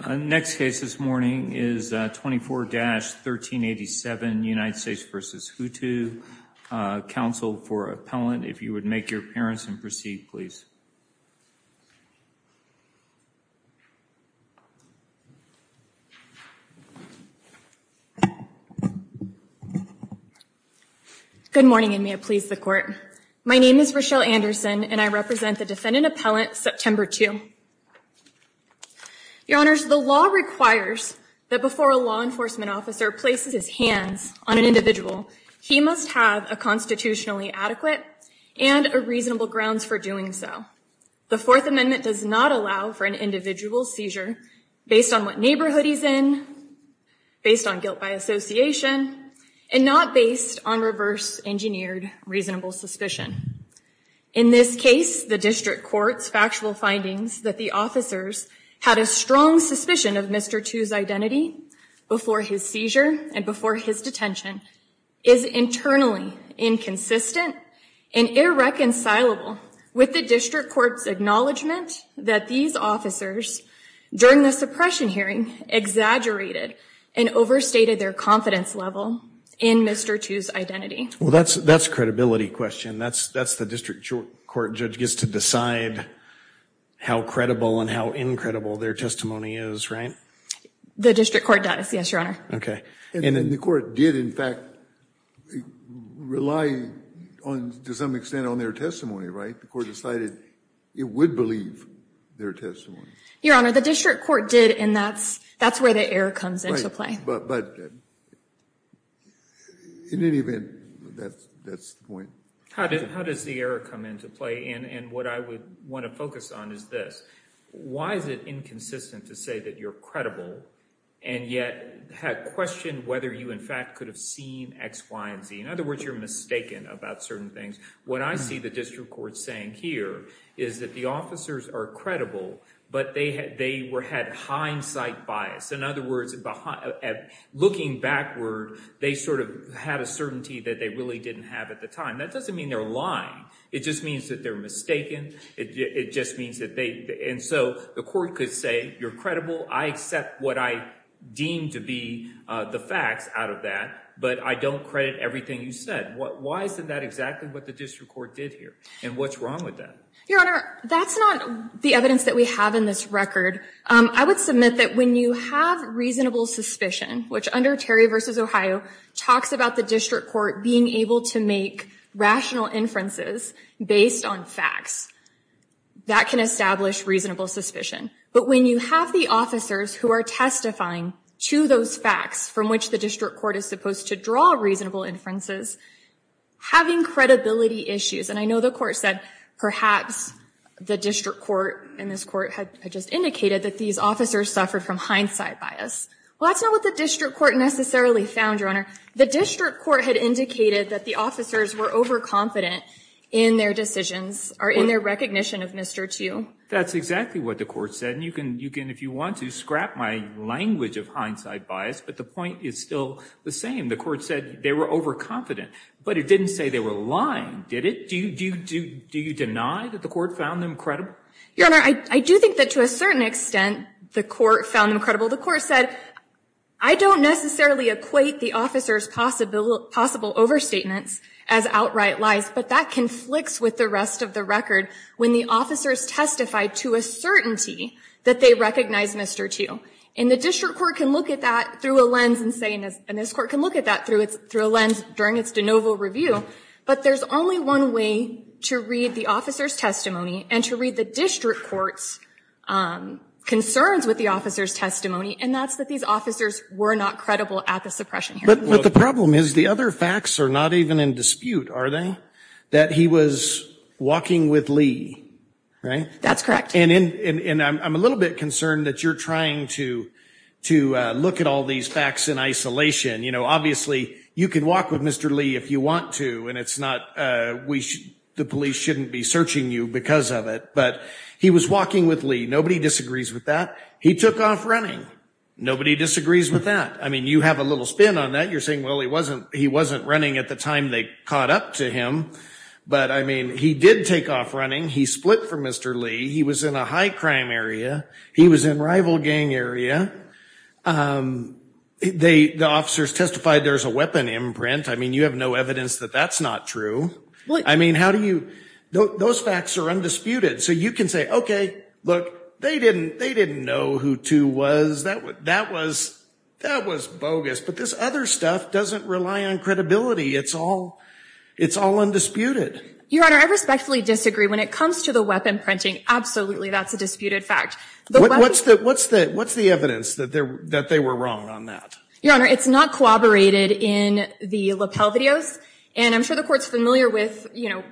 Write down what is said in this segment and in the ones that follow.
, counsel for appellant, if you would make your appearance and proceed, please. Good morning, and may it please the court. My name is Rochelle Anderson, and I represent the defendant appellant September 2. Your honors, the law requires that before a law enforcement officer places his hands on an individual, he must have a constitutionally adequate and a reasonable grounds for doing so. The Fourth Amendment does not allow for an individual seizure based on what neighborhood he's in, based on guilt by association, and not based on reverse engineered reasonable suspicion. In this case, the district court's factual findings that the officers had a strong suspicion of Mr. Htoo's identity before his seizure and before his detention is internally inconsistent and irreconcilable with the district court's acknowledgement that these officers, during the suppression hearing, exaggerated and overstated their confidence level in Mr. Htoo's identity. Well, that's a credibility question. That's the district court judge gets to decide how credible and how incredible their testimony is, right? The district court does, yes, your honor. Okay. And then the court did, in fact, rely on, to some extent, on their testimony, right? The court decided it would believe their testimony. Your honor, the district court did, and that's where the error comes into play. But in any event, that's the point. How does the error come into play? And what I would want to focus on is this. Why is it inconsistent to say that you're credible and yet have questioned whether you, in fact, could have seen X, Y, and Z? In other words, you're mistaken about certain things. What I see the district court saying here is that the officers are credible, but they had hindsight bias. In other words, looking backward, they sort of had a certainty that they really didn't have at the time. That doesn't mean they're lying. It just means that they're mistaken. It just means that they – and so the court could say you're credible. I accept what I deem to be the facts out of that, but I don't credit everything you said. Why isn't that exactly what the district court did here? And what's wrong with that? Your honor, that's not the evidence that we have in this record. I would submit that when you have reasonable suspicion, which under Terry v. Ohio talks about the district court being able to make rational inferences based on facts, that can establish reasonable suspicion. But when you have the officers who are testifying to those facts from which the district court is supposed to draw reasonable inferences, having credibility issues – and I know the court said perhaps the district court and this court had just indicated that these officers suffered from hindsight bias. Well, that's not what the district court necessarily found, your honor. The district court had indicated that the officers were overconfident in their decisions, or in their recognition of Mr. Tu. That's exactly what the court said. And you can, if you want to, scrap my language of hindsight bias, but the point is still the same. The court said they were overconfident. But it didn't say they were lying, did it? Do you deny that the court found them credible? Your honor, I do think that to a certain extent the court found them credible. The court said, I don't necessarily equate the officers' possible overstatements as outright lies, but that conflicts with the rest of the record. When the officers testified to a certainty that they recognized Mr. Tu, and the district court can look at that through a lens and say, and this court can look at that through a lens during its de novo review, but there's only one way to read the officer's testimony and to read the district court's concerns with the officer's testimony, and that's that these officers were not credible at the suppression hearing. But the problem is the other facts are not even in dispute, are they? That he was walking with Lee, right? That's correct. And I'm a little bit concerned that you're trying to look at all these facts in isolation. You know, obviously you can walk with Mr. Lee if you want to, and it's not, the police shouldn't be searching you because of it, but he was walking with Lee. Nobody disagrees with that. He took off running. Nobody disagrees with that. I mean, you have a little spin on that. You're saying, well, he wasn't running at the time they caught up to him, but I mean, he did take off running. He split from Mr. Lee. He was in a high crime area. He was in rival gang area. The officers testified there's a weapon imprint. I mean, you have no evidence that that's not true. I mean, how do you, those facts are undisputed. So you can say, okay, look, they didn't know who Tu was. That was bogus. But this other stuff doesn't rely on credibility. It's all undisputed. Your Honor, I respectfully disagree. When it comes to the weapon printing, absolutely that's a disputed fact. What's the evidence that they were wrong on that? Your Honor, it's not corroborated in the lapel videos, and I'm sure the Court is familiar with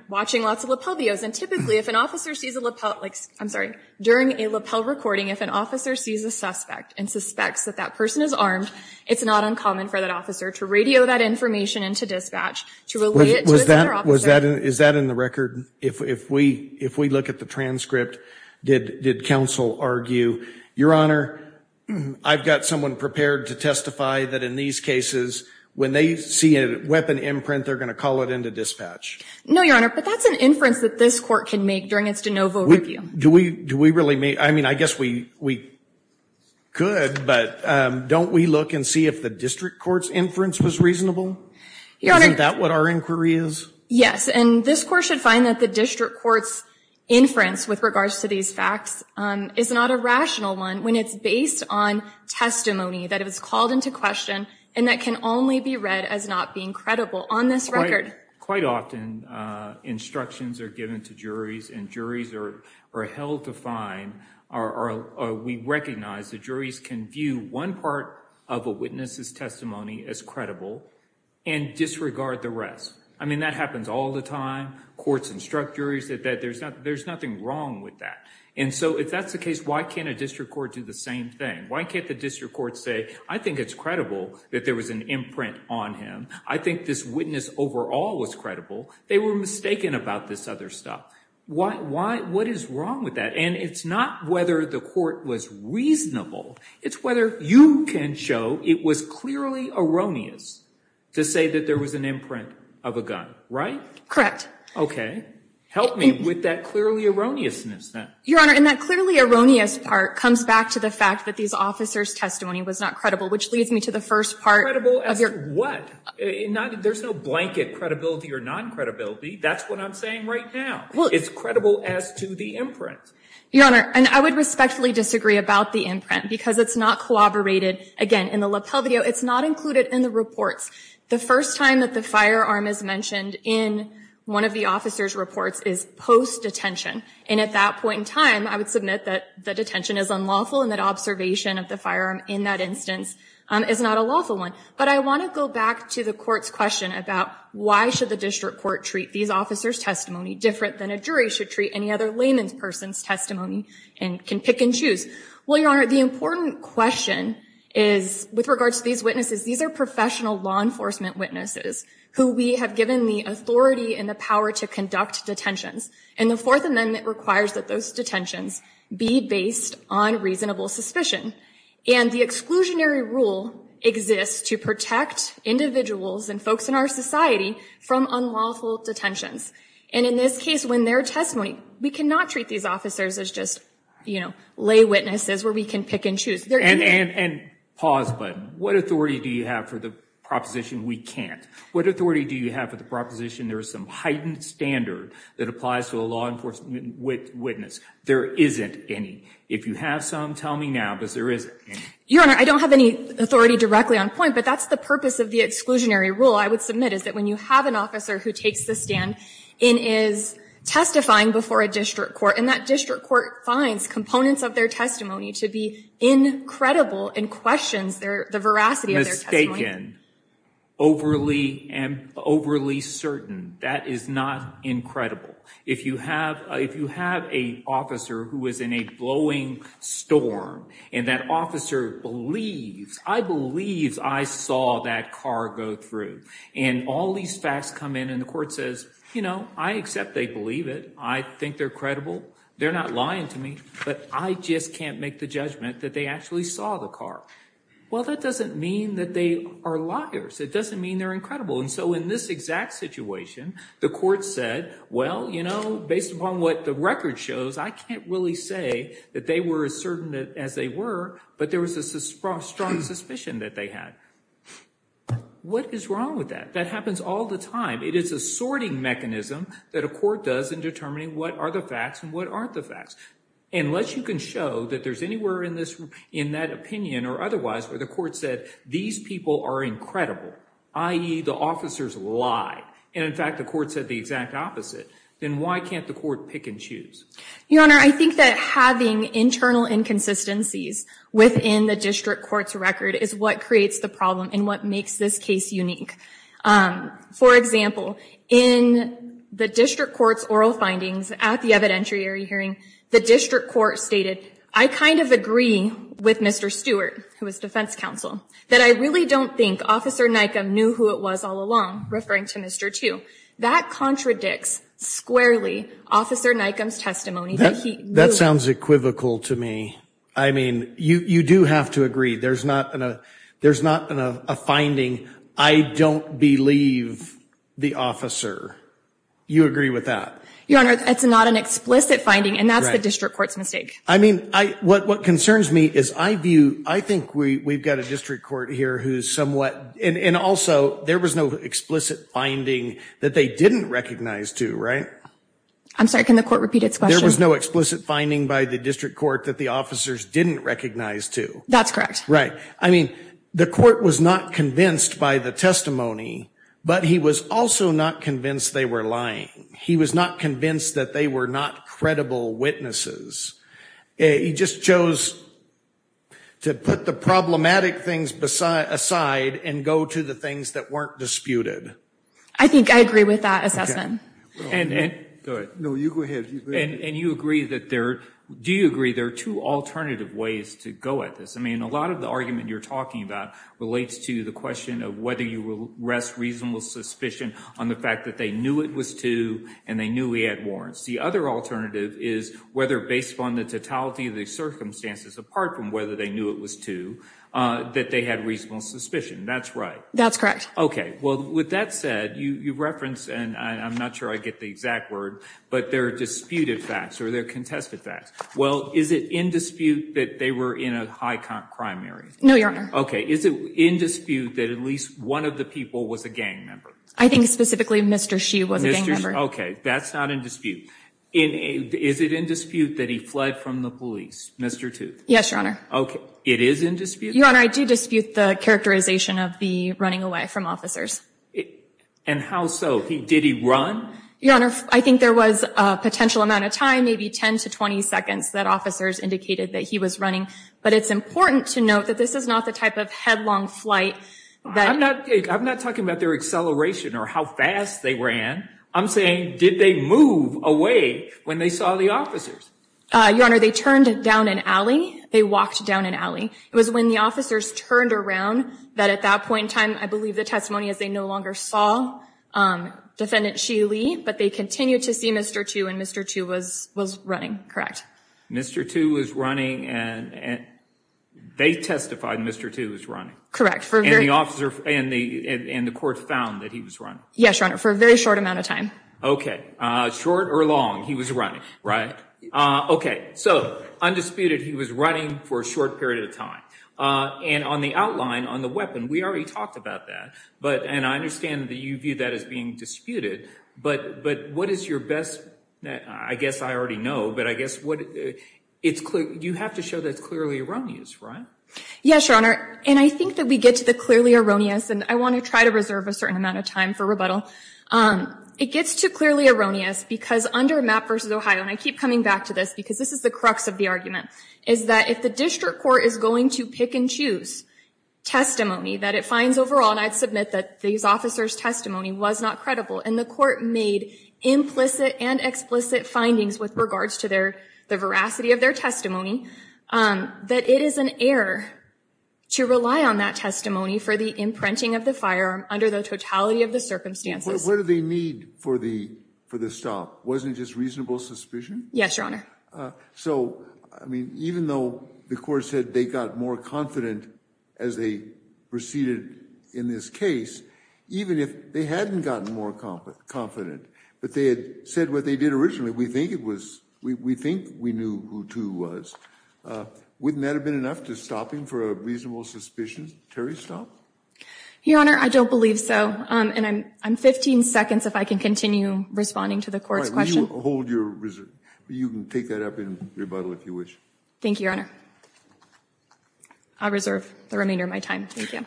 watching lots of lapel videos, and typically if an officer sees a lapel, I'm sorry, during a lapel recording, if an officer sees a suspect and suspects that that person is armed, it's not uncommon for that officer to radio that information into dispatch to relay it to another officer. Is that in the record? If we look at the transcript, did counsel argue, Your Honor, I've got someone prepared to testify that in these cases, when they see a weapon imprint, they're going to call it into dispatch? No, Your Honor, but that's an inference that this Court can make during its de novo review. I mean, I guess we could, but don't we look and see if the district court's inference was reasonable? Isn't that what our inquiry is? Yes, and this Court should find that the district court's inference with regards to these facts is not a rational one when it's based on testimony that is called into question and that can only be read as not being credible on this record. Quite often, instructions are given to juries and juries are held to find or we recognize that juries can view one part of a witness's testimony as credible and disregard the rest. I mean, that happens all the time. Courts instruct juries that there's nothing wrong with that. And so, if that's the case, why can't a district court do the same thing? Why can't the district court say, I think it's credible that there was an imprint on him. I think this witness overall was credible. They were mistaken about this other stuff. What is wrong with that? And it's not whether the Court was reasonable. It's whether you can show it was clearly erroneous to say that there was an imprint of a gun. Right? Correct. Okay. Help me with that clearly erroneousness then. Your Honor, and that clearly erroneous part comes back to the fact that these officers' testimony was not credible, which leads me to the first part of your question. There's no blanket credibility or non-credibility. That's what I'm saying right now. It's credible as to the imprint. Your Honor, and I would respectfully disagree about the imprint because it's not corroborated, again, in the lapel video. It's not included in the reports. The first time that the firearm is mentioned in one of the officers' reports is post-detention. And at that point in time, I would submit that the detention is unlawful and that observation of the firearm in that instance is not a lawful one. But I want to go back to the Court's question about why should the district court treat these officers' testimony different than a jury should treat any other layman's person's testimony and can pick and choose. Well, Your Honor, the important question is, with regard to these witnesses, these are professional law enforcement witnesses who we have given the authority and the power to conduct detentions. And the Fourth Amendment requires that those detentions be based on reasonable suspicion. And the exclusionary rule exists to protect individuals and folks in our society from unlawful detentions. And in this case, when they're testimony, we cannot treat these officers as just, you know, lay witnesses where we can pick and choose. And pause a minute. What authority do you have for the proposition we can't? What authority do you have for the proposition there is some heightened standard that applies to a law enforcement witness? There isn't any. If you have some, tell me now, because there isn't any. Your Honor, I don't have any authority directly on point. But that's the purpose of the exclusionary rule, I would submit, is that when you have an officer who takes the stand and is testifying before a district court, and that district court finds components of their testimony to be incredible and questions the veracity of their testimony. Mistaken, overly certain. That is not incredible. If you have an officer who is in a blowing storm, and that officer believes, I believe I saw that car go through. And all these facts come in, and the court says, you know, I accept they believe it. I think they're credible. They're not lying to me. But I just can't make the judgment that they actually saw the car. Well, that doesn't mean that they are liars. It doesn't mean they're incredible. And so in this exact situation, the court said, well, you know, based upon what the record shows, I can't really say that they were as certain as they were, but there was a strong suspicion that they had. What is wrong with that? That happens all the time. It is a sorting mechanism that a court does in determining what are the facts and what aren't the facts. Unless you can show that there's anywhere in that opinion or otherwise where the court said these people are incredible, i.e., the officers lie, and in fact the court said the exact opposite, then why can't the court pick and choose? Your Honor, I think that having internal inconsistencies within the district court's record is what creates the problem and what makes this case unique. For example, in the district court's oral findings at the evidentiary hearing, the district court stated, I kind of agree with Mr. Stewart, who was defense counsel, that I really don't think Officer Nikam knew who it was all along, referring to Mr. Tu. That contradicts squarely Officer Nikam's testimony that he knew. That sounds equivocal to me. I mean, you do have to agree. There's not a finding, I don't believe the officer. You agree with that? Your Honor, it's not an explicit finding, and that's the district court's mistake. I mean, what concerns me is I view, I think we've got a district court here who's somewhat, and also there was no explicit finding that they didn't recognize Tu, right? I'm sorry, can the court repeat its question? There was no explicit finding by the district court that the officers didn't recognize Tu. That's correct. Right. I mean, the court was not convinced by the testimony, but he was also not convinced they were lying. He was not convinced that they were not credible witnesses. He just chose to put the problematic things aside and go to the things that weren't disputed. I think I agree with that assessment. Go ahead. No, you go ahead. And you agree that there, do you agree there are two alternative ways to go at this? I mean, a lot of the argument you're talking about relates to the question of whether you rest reasonable suspicion on the fact that they knew it was Tu and they knew he had warrants. The other alternative is whether based upon the totality of the circumstances apart from whether they knew it was Tu, that they had reasonable suspicion. That's right. That's correct. Okay. Well, with that said, you reference, and I'm not sure I get the exact word, but there are disputed facts or there are contested facts. Well, is it in dispute that they were in a high crime area? No, Your Honor. Okay. Is it in dispute that at least one of the people was a gang member? I think specifically Mr. Shi was a gang member. Okay. That's not in dispute. Is it in dispute that he fled from the police, Mr. Tu? Yes, Your Honor. Okay. It is in dispute? Your Honor, I do dispute the characterization of the running away from officers. And how so? Did he run? Your Honor, I think there was a potential amount of time, maybe 10 to 20 seconds, that officers indicated that he was running. But it's important to note that this is not the type of headlong flight. I'm not talking about their acceleration or how fast they ran. I'm saying did they move away when they saw the officers? Your Honor, they turned down an alley. They walked down an alley. It was when the officers turned around that at that point in time, I believe the testimony is they no longer saw Defendant Shi Li, but they continued to see Mr. Tu, and Mr. Tu was running, correct? Mr. Tu was running, and they testified Mr. Tu was running. Correct. And the court found that he was running? Yes, Your Honor, for a very short amount of time. Okay. Short or long, he was running, right? Okay. So, undisputed, he was running for a short period of time. And on the outline, on the weapon, we already talked about that. And I understand that you view that as being disputed. But what is your best, I guess I already know, but I guess you have to show that it's clearly erroneous, right? Yes, Your Honor. And I think that we get to the clearly erroneous, and I want to try to reserve a certain amount of time for rebuttal. It gets to clearly erroneous because under Mapp v. Ohio, and I keep coming back to this because this is the crux of the argument, is that if the district court is going to pick and choose testimony that it finds overall, and I'd submit that these officers' testimony was not credible, and the court made implicit and explicit findings with regards to the veracity of their testimony, that it is an error to rely on that testimony for the imprinting of the firearm under the totality of the circumstances. What did they need for the stop? Wasn't it just reasonable suspicion? Yes, Your Honor. So, I mean, even though the court said they got more confident as they proceeded in this case, even if they hadn't gotten more confident, but they had said what they did originally, we think we knew who 2 was, wouldn't that have been enough to stop him for a reasonable suspicion? Terry, stop? Your Honor, I don't believe so, and I'm 15 seconds if I can continue responding to the court's question. All right. You can take that up in rebuttal if you wish. Thank you, Your Honor. I'll reserve the remainder of my time. Thank you.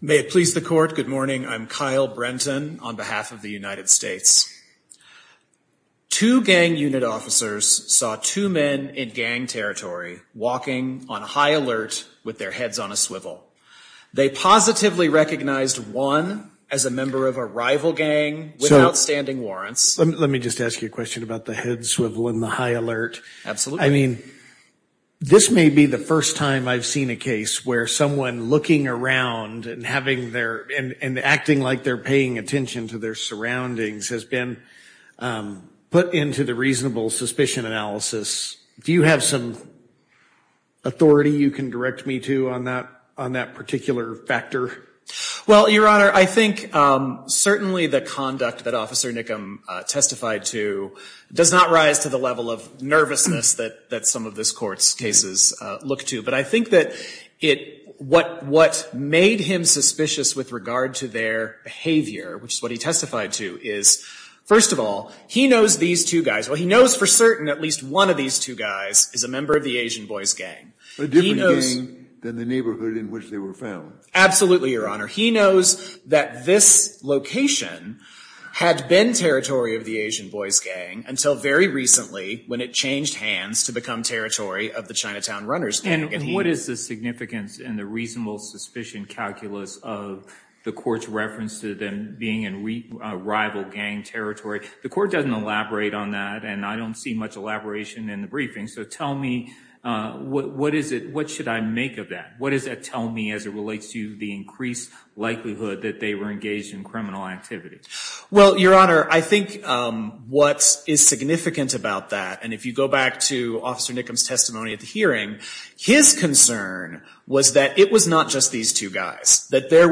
May it please the court, good morning. I'm Kyle Brenton on behalf of the United States. Two gang unit officers saw two men in gang territory walking on high alert with their heads on a swivel. They positively recognized one as a member of a rival gang without standing warrants. Let me just ask you a question about the head swivel and the high alert. Absolutely. I mean, this may be the first time I've seen a case where someone looking around and acting like they're paying attention to their surroundings has been put into the reasonable suspicion analysis. Do you have some authority you can direct me to on that particular factor? Well, Your Honor, I think certainly the conduct that Officer Nickham testified to does not rise to the level of nervousness that some of this court's cases look to. But I think that what made him suspicious with regard to their behavior, which is what he testified to, is first of all, he knows these two guys. Well, he knows for certain at least one of these two guys is a member of the Asian Boys Gang. A different gang than the neighborhood in which they were found. Absolutely, Your Honor. He knows that this location had been territory of the Asian Boys Gang until very recently when it changed hands to become territory of the Chinatown Runners. And what is the significance in the reasonable suspicion calculus of the court's reference to them being in rival gang territory? The court doesn't elaborate on that, and I don't see much elaboration in the briefing. So tell me, what should I make of that? What does that tell me as it relates to the increased likelihood that they were engaged in criminal activities? Well, Your Honor, I think what is significant about that, and if you go back to Officer Nickham's testimony at the hearing, his concern was that it was not just these two guys. That there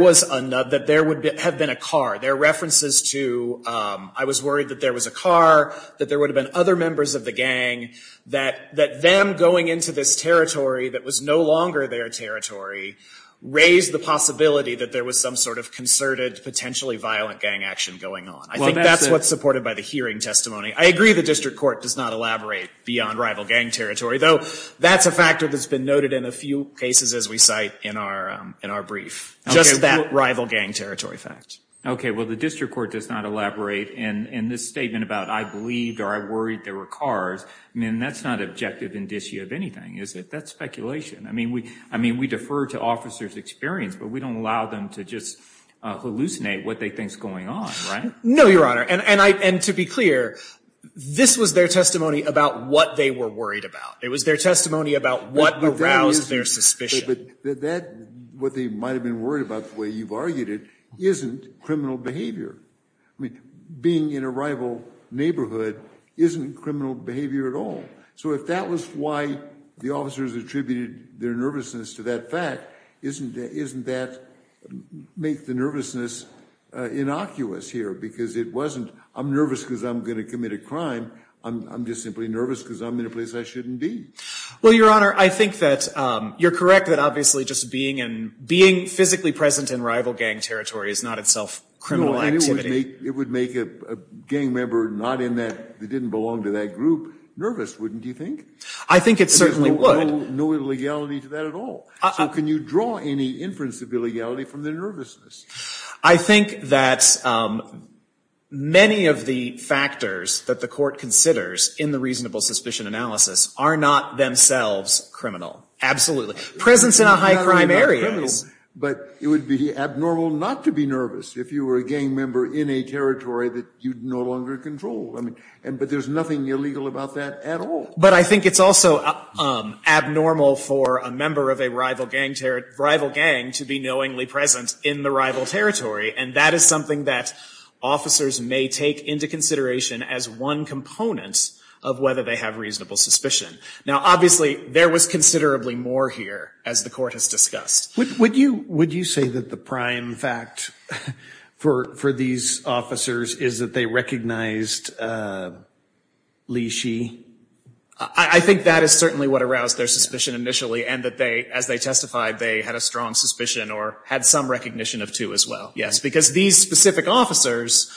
would have been a car. There are references to, I was worried that there was a car, that there would have been other members of the gang, that them going into this territory that was no longer their territory raised the possibility that there was some sort of concerted, potentially violent gang action going on. I think that's what's supported by the hearing testimony. I agree the district court does not elaborate beyond rival gang territory, though that's a factor that's been noted in a few cases as we cite in our brief. Just that rival gang territory fact. Okay, well the district court does not elaborate in this statement about I believed or I worried there were cars. I mean, that's not objective indicia of anything, is it? That's speculation. I mean, we defer to officers' experience, but we don't allow them to just hallucinate what they think is going on, right? No, Your Honor, and to be clear, this was their testimony about what they were worried about. It was their testimony about what aroused their suspicion. But that, what they might have been worried about the way you've argued it, isn't criminal behavior. I mean, being in a rival neighborhood isn't criminal behavior at all. So if that was why the officers attributed their nervousness to that fact, isn't that make the nervousness innocuous here? Because it wasn't I'm nervous because I'm going to commit a crime. I'm just simply nervous because I'm in a place I shouldn't be. Well, Your Honor, I think that you're correct that obviously just being in, being physically present in rival gang territory is not itself criminal activity. No, and it would make a gang member not in that, that didn't belong to that group nervous, wouldn't you think? I think it certainly would. There's no illegality to that at all. So can you draw any inference of illegality from their nervousness? I think that many of the factors that the court considers in the reasonable suspicion analysis are not themselves criminal. Absolutely. Presence in a high crime area. But it would be abnormal not to be nervous if you were a gang member in a territory that you no longer control. I mean, but there's nothing illegal about that at all. But I think it's also abnormal for a member of a rival gang to be knowingly present in the rival territory. And that is something that officers may take into consideration as one component of whether they have reasonable suspicion. Now, obviously, there was considerably more here, as the court has discussed. Would you say that the prime fact for these officers is that they recognized Li Shi? I think that is certainly what aroused their suspicion initially, and that as they testified they had a strong suspicion or had some recognition of two as well. Yes, because these specific officers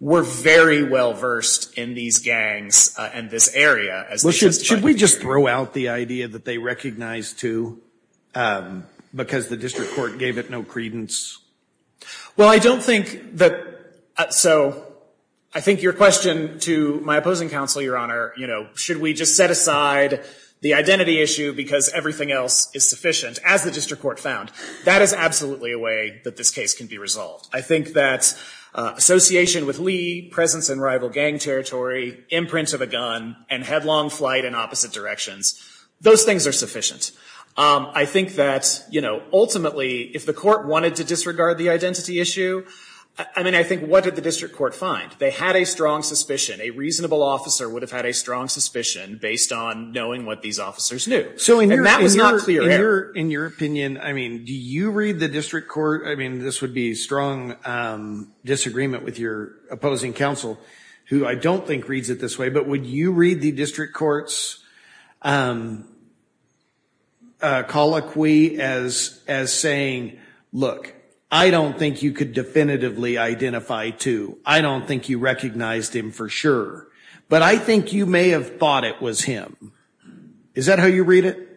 were very well versed in these gangs and this area. Should we just throw out the idea that they recognized two because the district court gave it no credence? Well, I don't think that so. I think your question to my opposing counsel, Your Honor, you know, should we just set aside the identity issue because everything else is sufficient, as the district court found? That is absolutely a way that this case can be resolved. I think that association with Li, presence in rival gang territory, imprint of a gun, and headlong flight in opposite directions, those things are sufficient. I think that, you know, ultimately, if the court wanted to disregard the identity issue, I mean, I think what did the district court find? They had a strong suspicion. A reasonable officer would have had a strong suspicion based on knowing what these officers knew. And that was not clear. So in your opinion, I mean, do you read the district court, I mean, this would be strong disagreement with your opposing counsel, who I don't think reads it this way, but would you read the district court's colloquy as saying, look, I don't think you could definitively identify two. I don't think you recognized him for sure. But I think you may have thought it was him. Is that how you read it?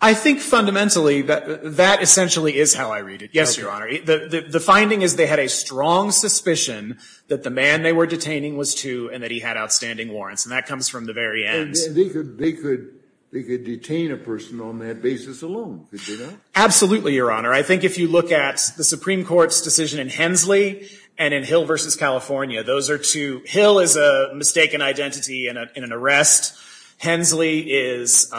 I think fundamentally that that essentially is how I read it. Yes, Your Honor. The finding is they had a strong suspicion that the man they were detaining was two and that he had outstanding warrants. And that comes from the very end. And they could detain a person on that basis alone, could they not? Absolutely, Your Honor. I think if you look at the Supreme Court's decision in Hensley and in Hill v. California, those are two. Hill is a mistaken identity in an arrest. Hensley is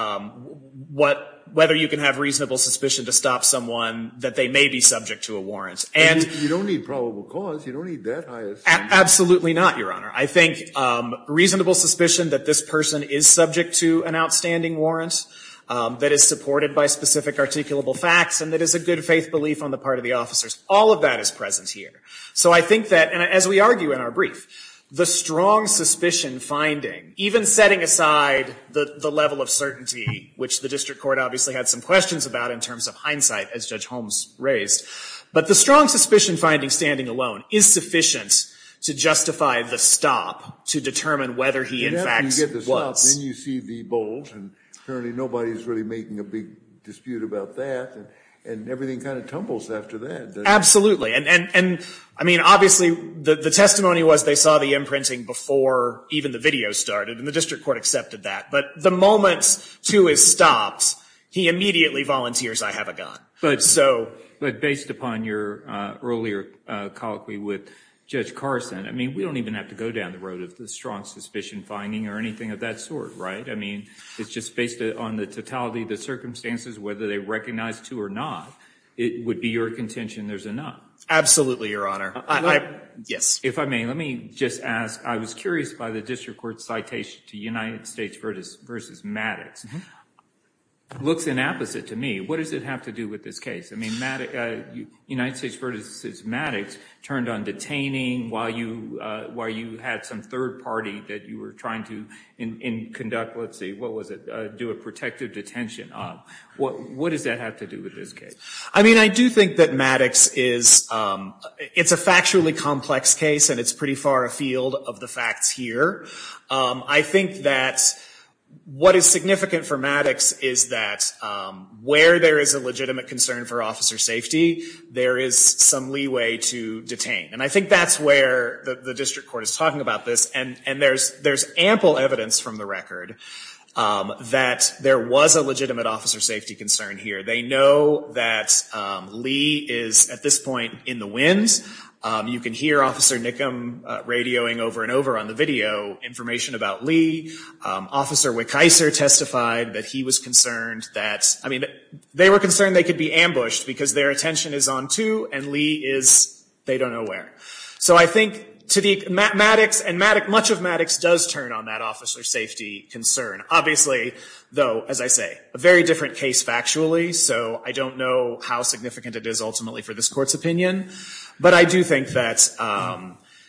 whether you can have reasonable suspicion to stop someone that they may be subject to a warrant. You don't need probable cause. You don't need that high a suspicion. Absolutely not, Your Honor. I think reasonable suspicion that this person is subject to an outstanding warrant that is supported by specific articulable facts and that is a good faith belief on the part of the officers, all of that is present here. So I think that, and as we argue in our brief, the strong suspicion finding, even setting aside the level of certainty, which the district court obviously had some questions about in terms of hindsight, as Judge Holmes raised, but the strong suspicion finding standing alone is sufficient to justify the stop to determine whether he in fact was. You get the stop, then you see the bolt. And currently nobody is really making a big dispute about that. And everything kind of tumbles after that. And, I mean, obviously the testimony was they saw the imprinting before even the video started, and the district court accepted that. But the moment to his stops, he immediately volunteers, I have a gun. But based upon your earlier colloquy with Judge Carson, I mean, we don't even have to go down the road of the strong suspicion finding or anything of that sort, right? I mean, it's just based on the totality of the circumstances, whether they recognize it or not, it would be your contention there's enough. Absolutely, Your Honor. Yes. If I may, let me just ask, I was curious by the district court's citation to United States v. Maddox. It looks inapposite to me. What does it have to do with this case? I mean, United States v. Maddox turned on detaining while you had some third party that you were trying to conduct, let's see, what was it? Do a protective detention of. What does that have to do with this case? I mean, I do think that Maddox is, it's a factually complex case, and it's pretty far afield of the facts here. I think that what is significant for Maddox is that where there is a legitimate concern for officer safety, there is some leeway to detain. And I think that's where the district court is talking about this. And there's ample evidence from the record that there was a legitimate officer safety concern here. They know that Lee is, at this point, in the winds. You can hear Officer Nickham radioing over and over on the video information about Lee. Officer Wikiser testified that he was concerned that, I mean, they were concerned they could be ambushed because their attention is on two and Lee is they don't know where. So I think to the, Maddox, and much of Maddox does turn on that officer safety concern. Obviously, though, as I say, a very different case factually. So I don't know how significant it is ultimately for this court's opinion. But I do think that,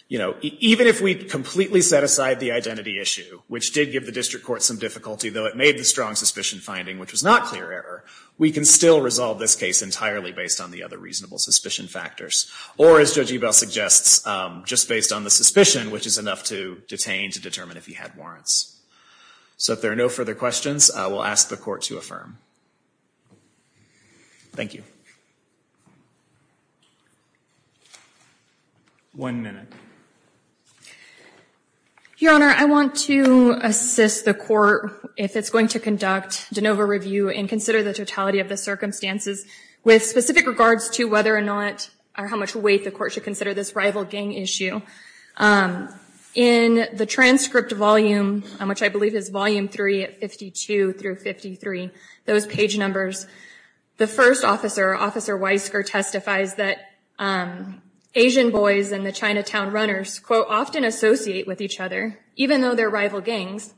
you know, even if we completely set aside the identity issue, which did give the district court some difficulty, though it made the strong suspicion finding, which was not clear error, we can still resolve this case entirely based on the other reasonable suspicion factors. Or, as Judge Ebell suggests, just based on the suspicion, which is enough to detain to determine if he had warrants. So if there are no further questions, I will ask the court to affirm. Thank you. One minute. Your Honor, I want to assist the court if it's going to conduct de novo review and consider the totality of the circumstances with specific regards to whether or not or how much weight the court should consider this rival gang issue. In the transcript volume, which I believe is Volume 3 at 52 through 53, those page numbers, the first officer, Officer Weisker, testifies that Asian boys and the Chinatown Runners, quote, often associate with each other, even though they're rival gangs,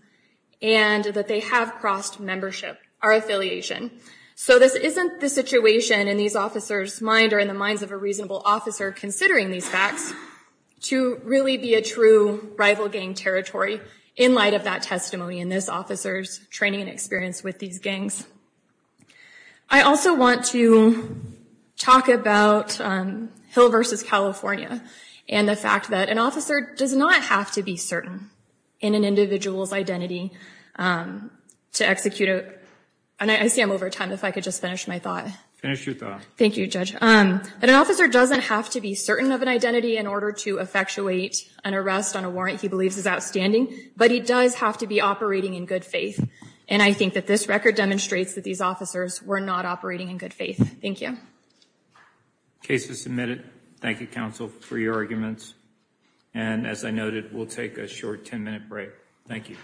and that they have crossed membership, our affiliation. So this isn't the situation in these officers' mind or in the minds of a true rival gang territory in light of that testimony in this officer's training and experience with these gangs. I also want to talk about Hill v. California and the fact that an officer does not have to be certain in an individual's identity to execute it. And I see I'm over time. If I could just finish my thought. Finish your thought. Thank you, Judge. An officer doesn't have to be certain of an identity in order to effectuate an arrest on a warrant he believes is outstanding, but he does have to be operating in good faith. And I think that this record demonstrates that these officers were not operating in good faith. Thank you. Case is submitted. Thank you, counsel, for your arguments. And as I noted, we'll take a short 10-minute break. Thank you. Thank you.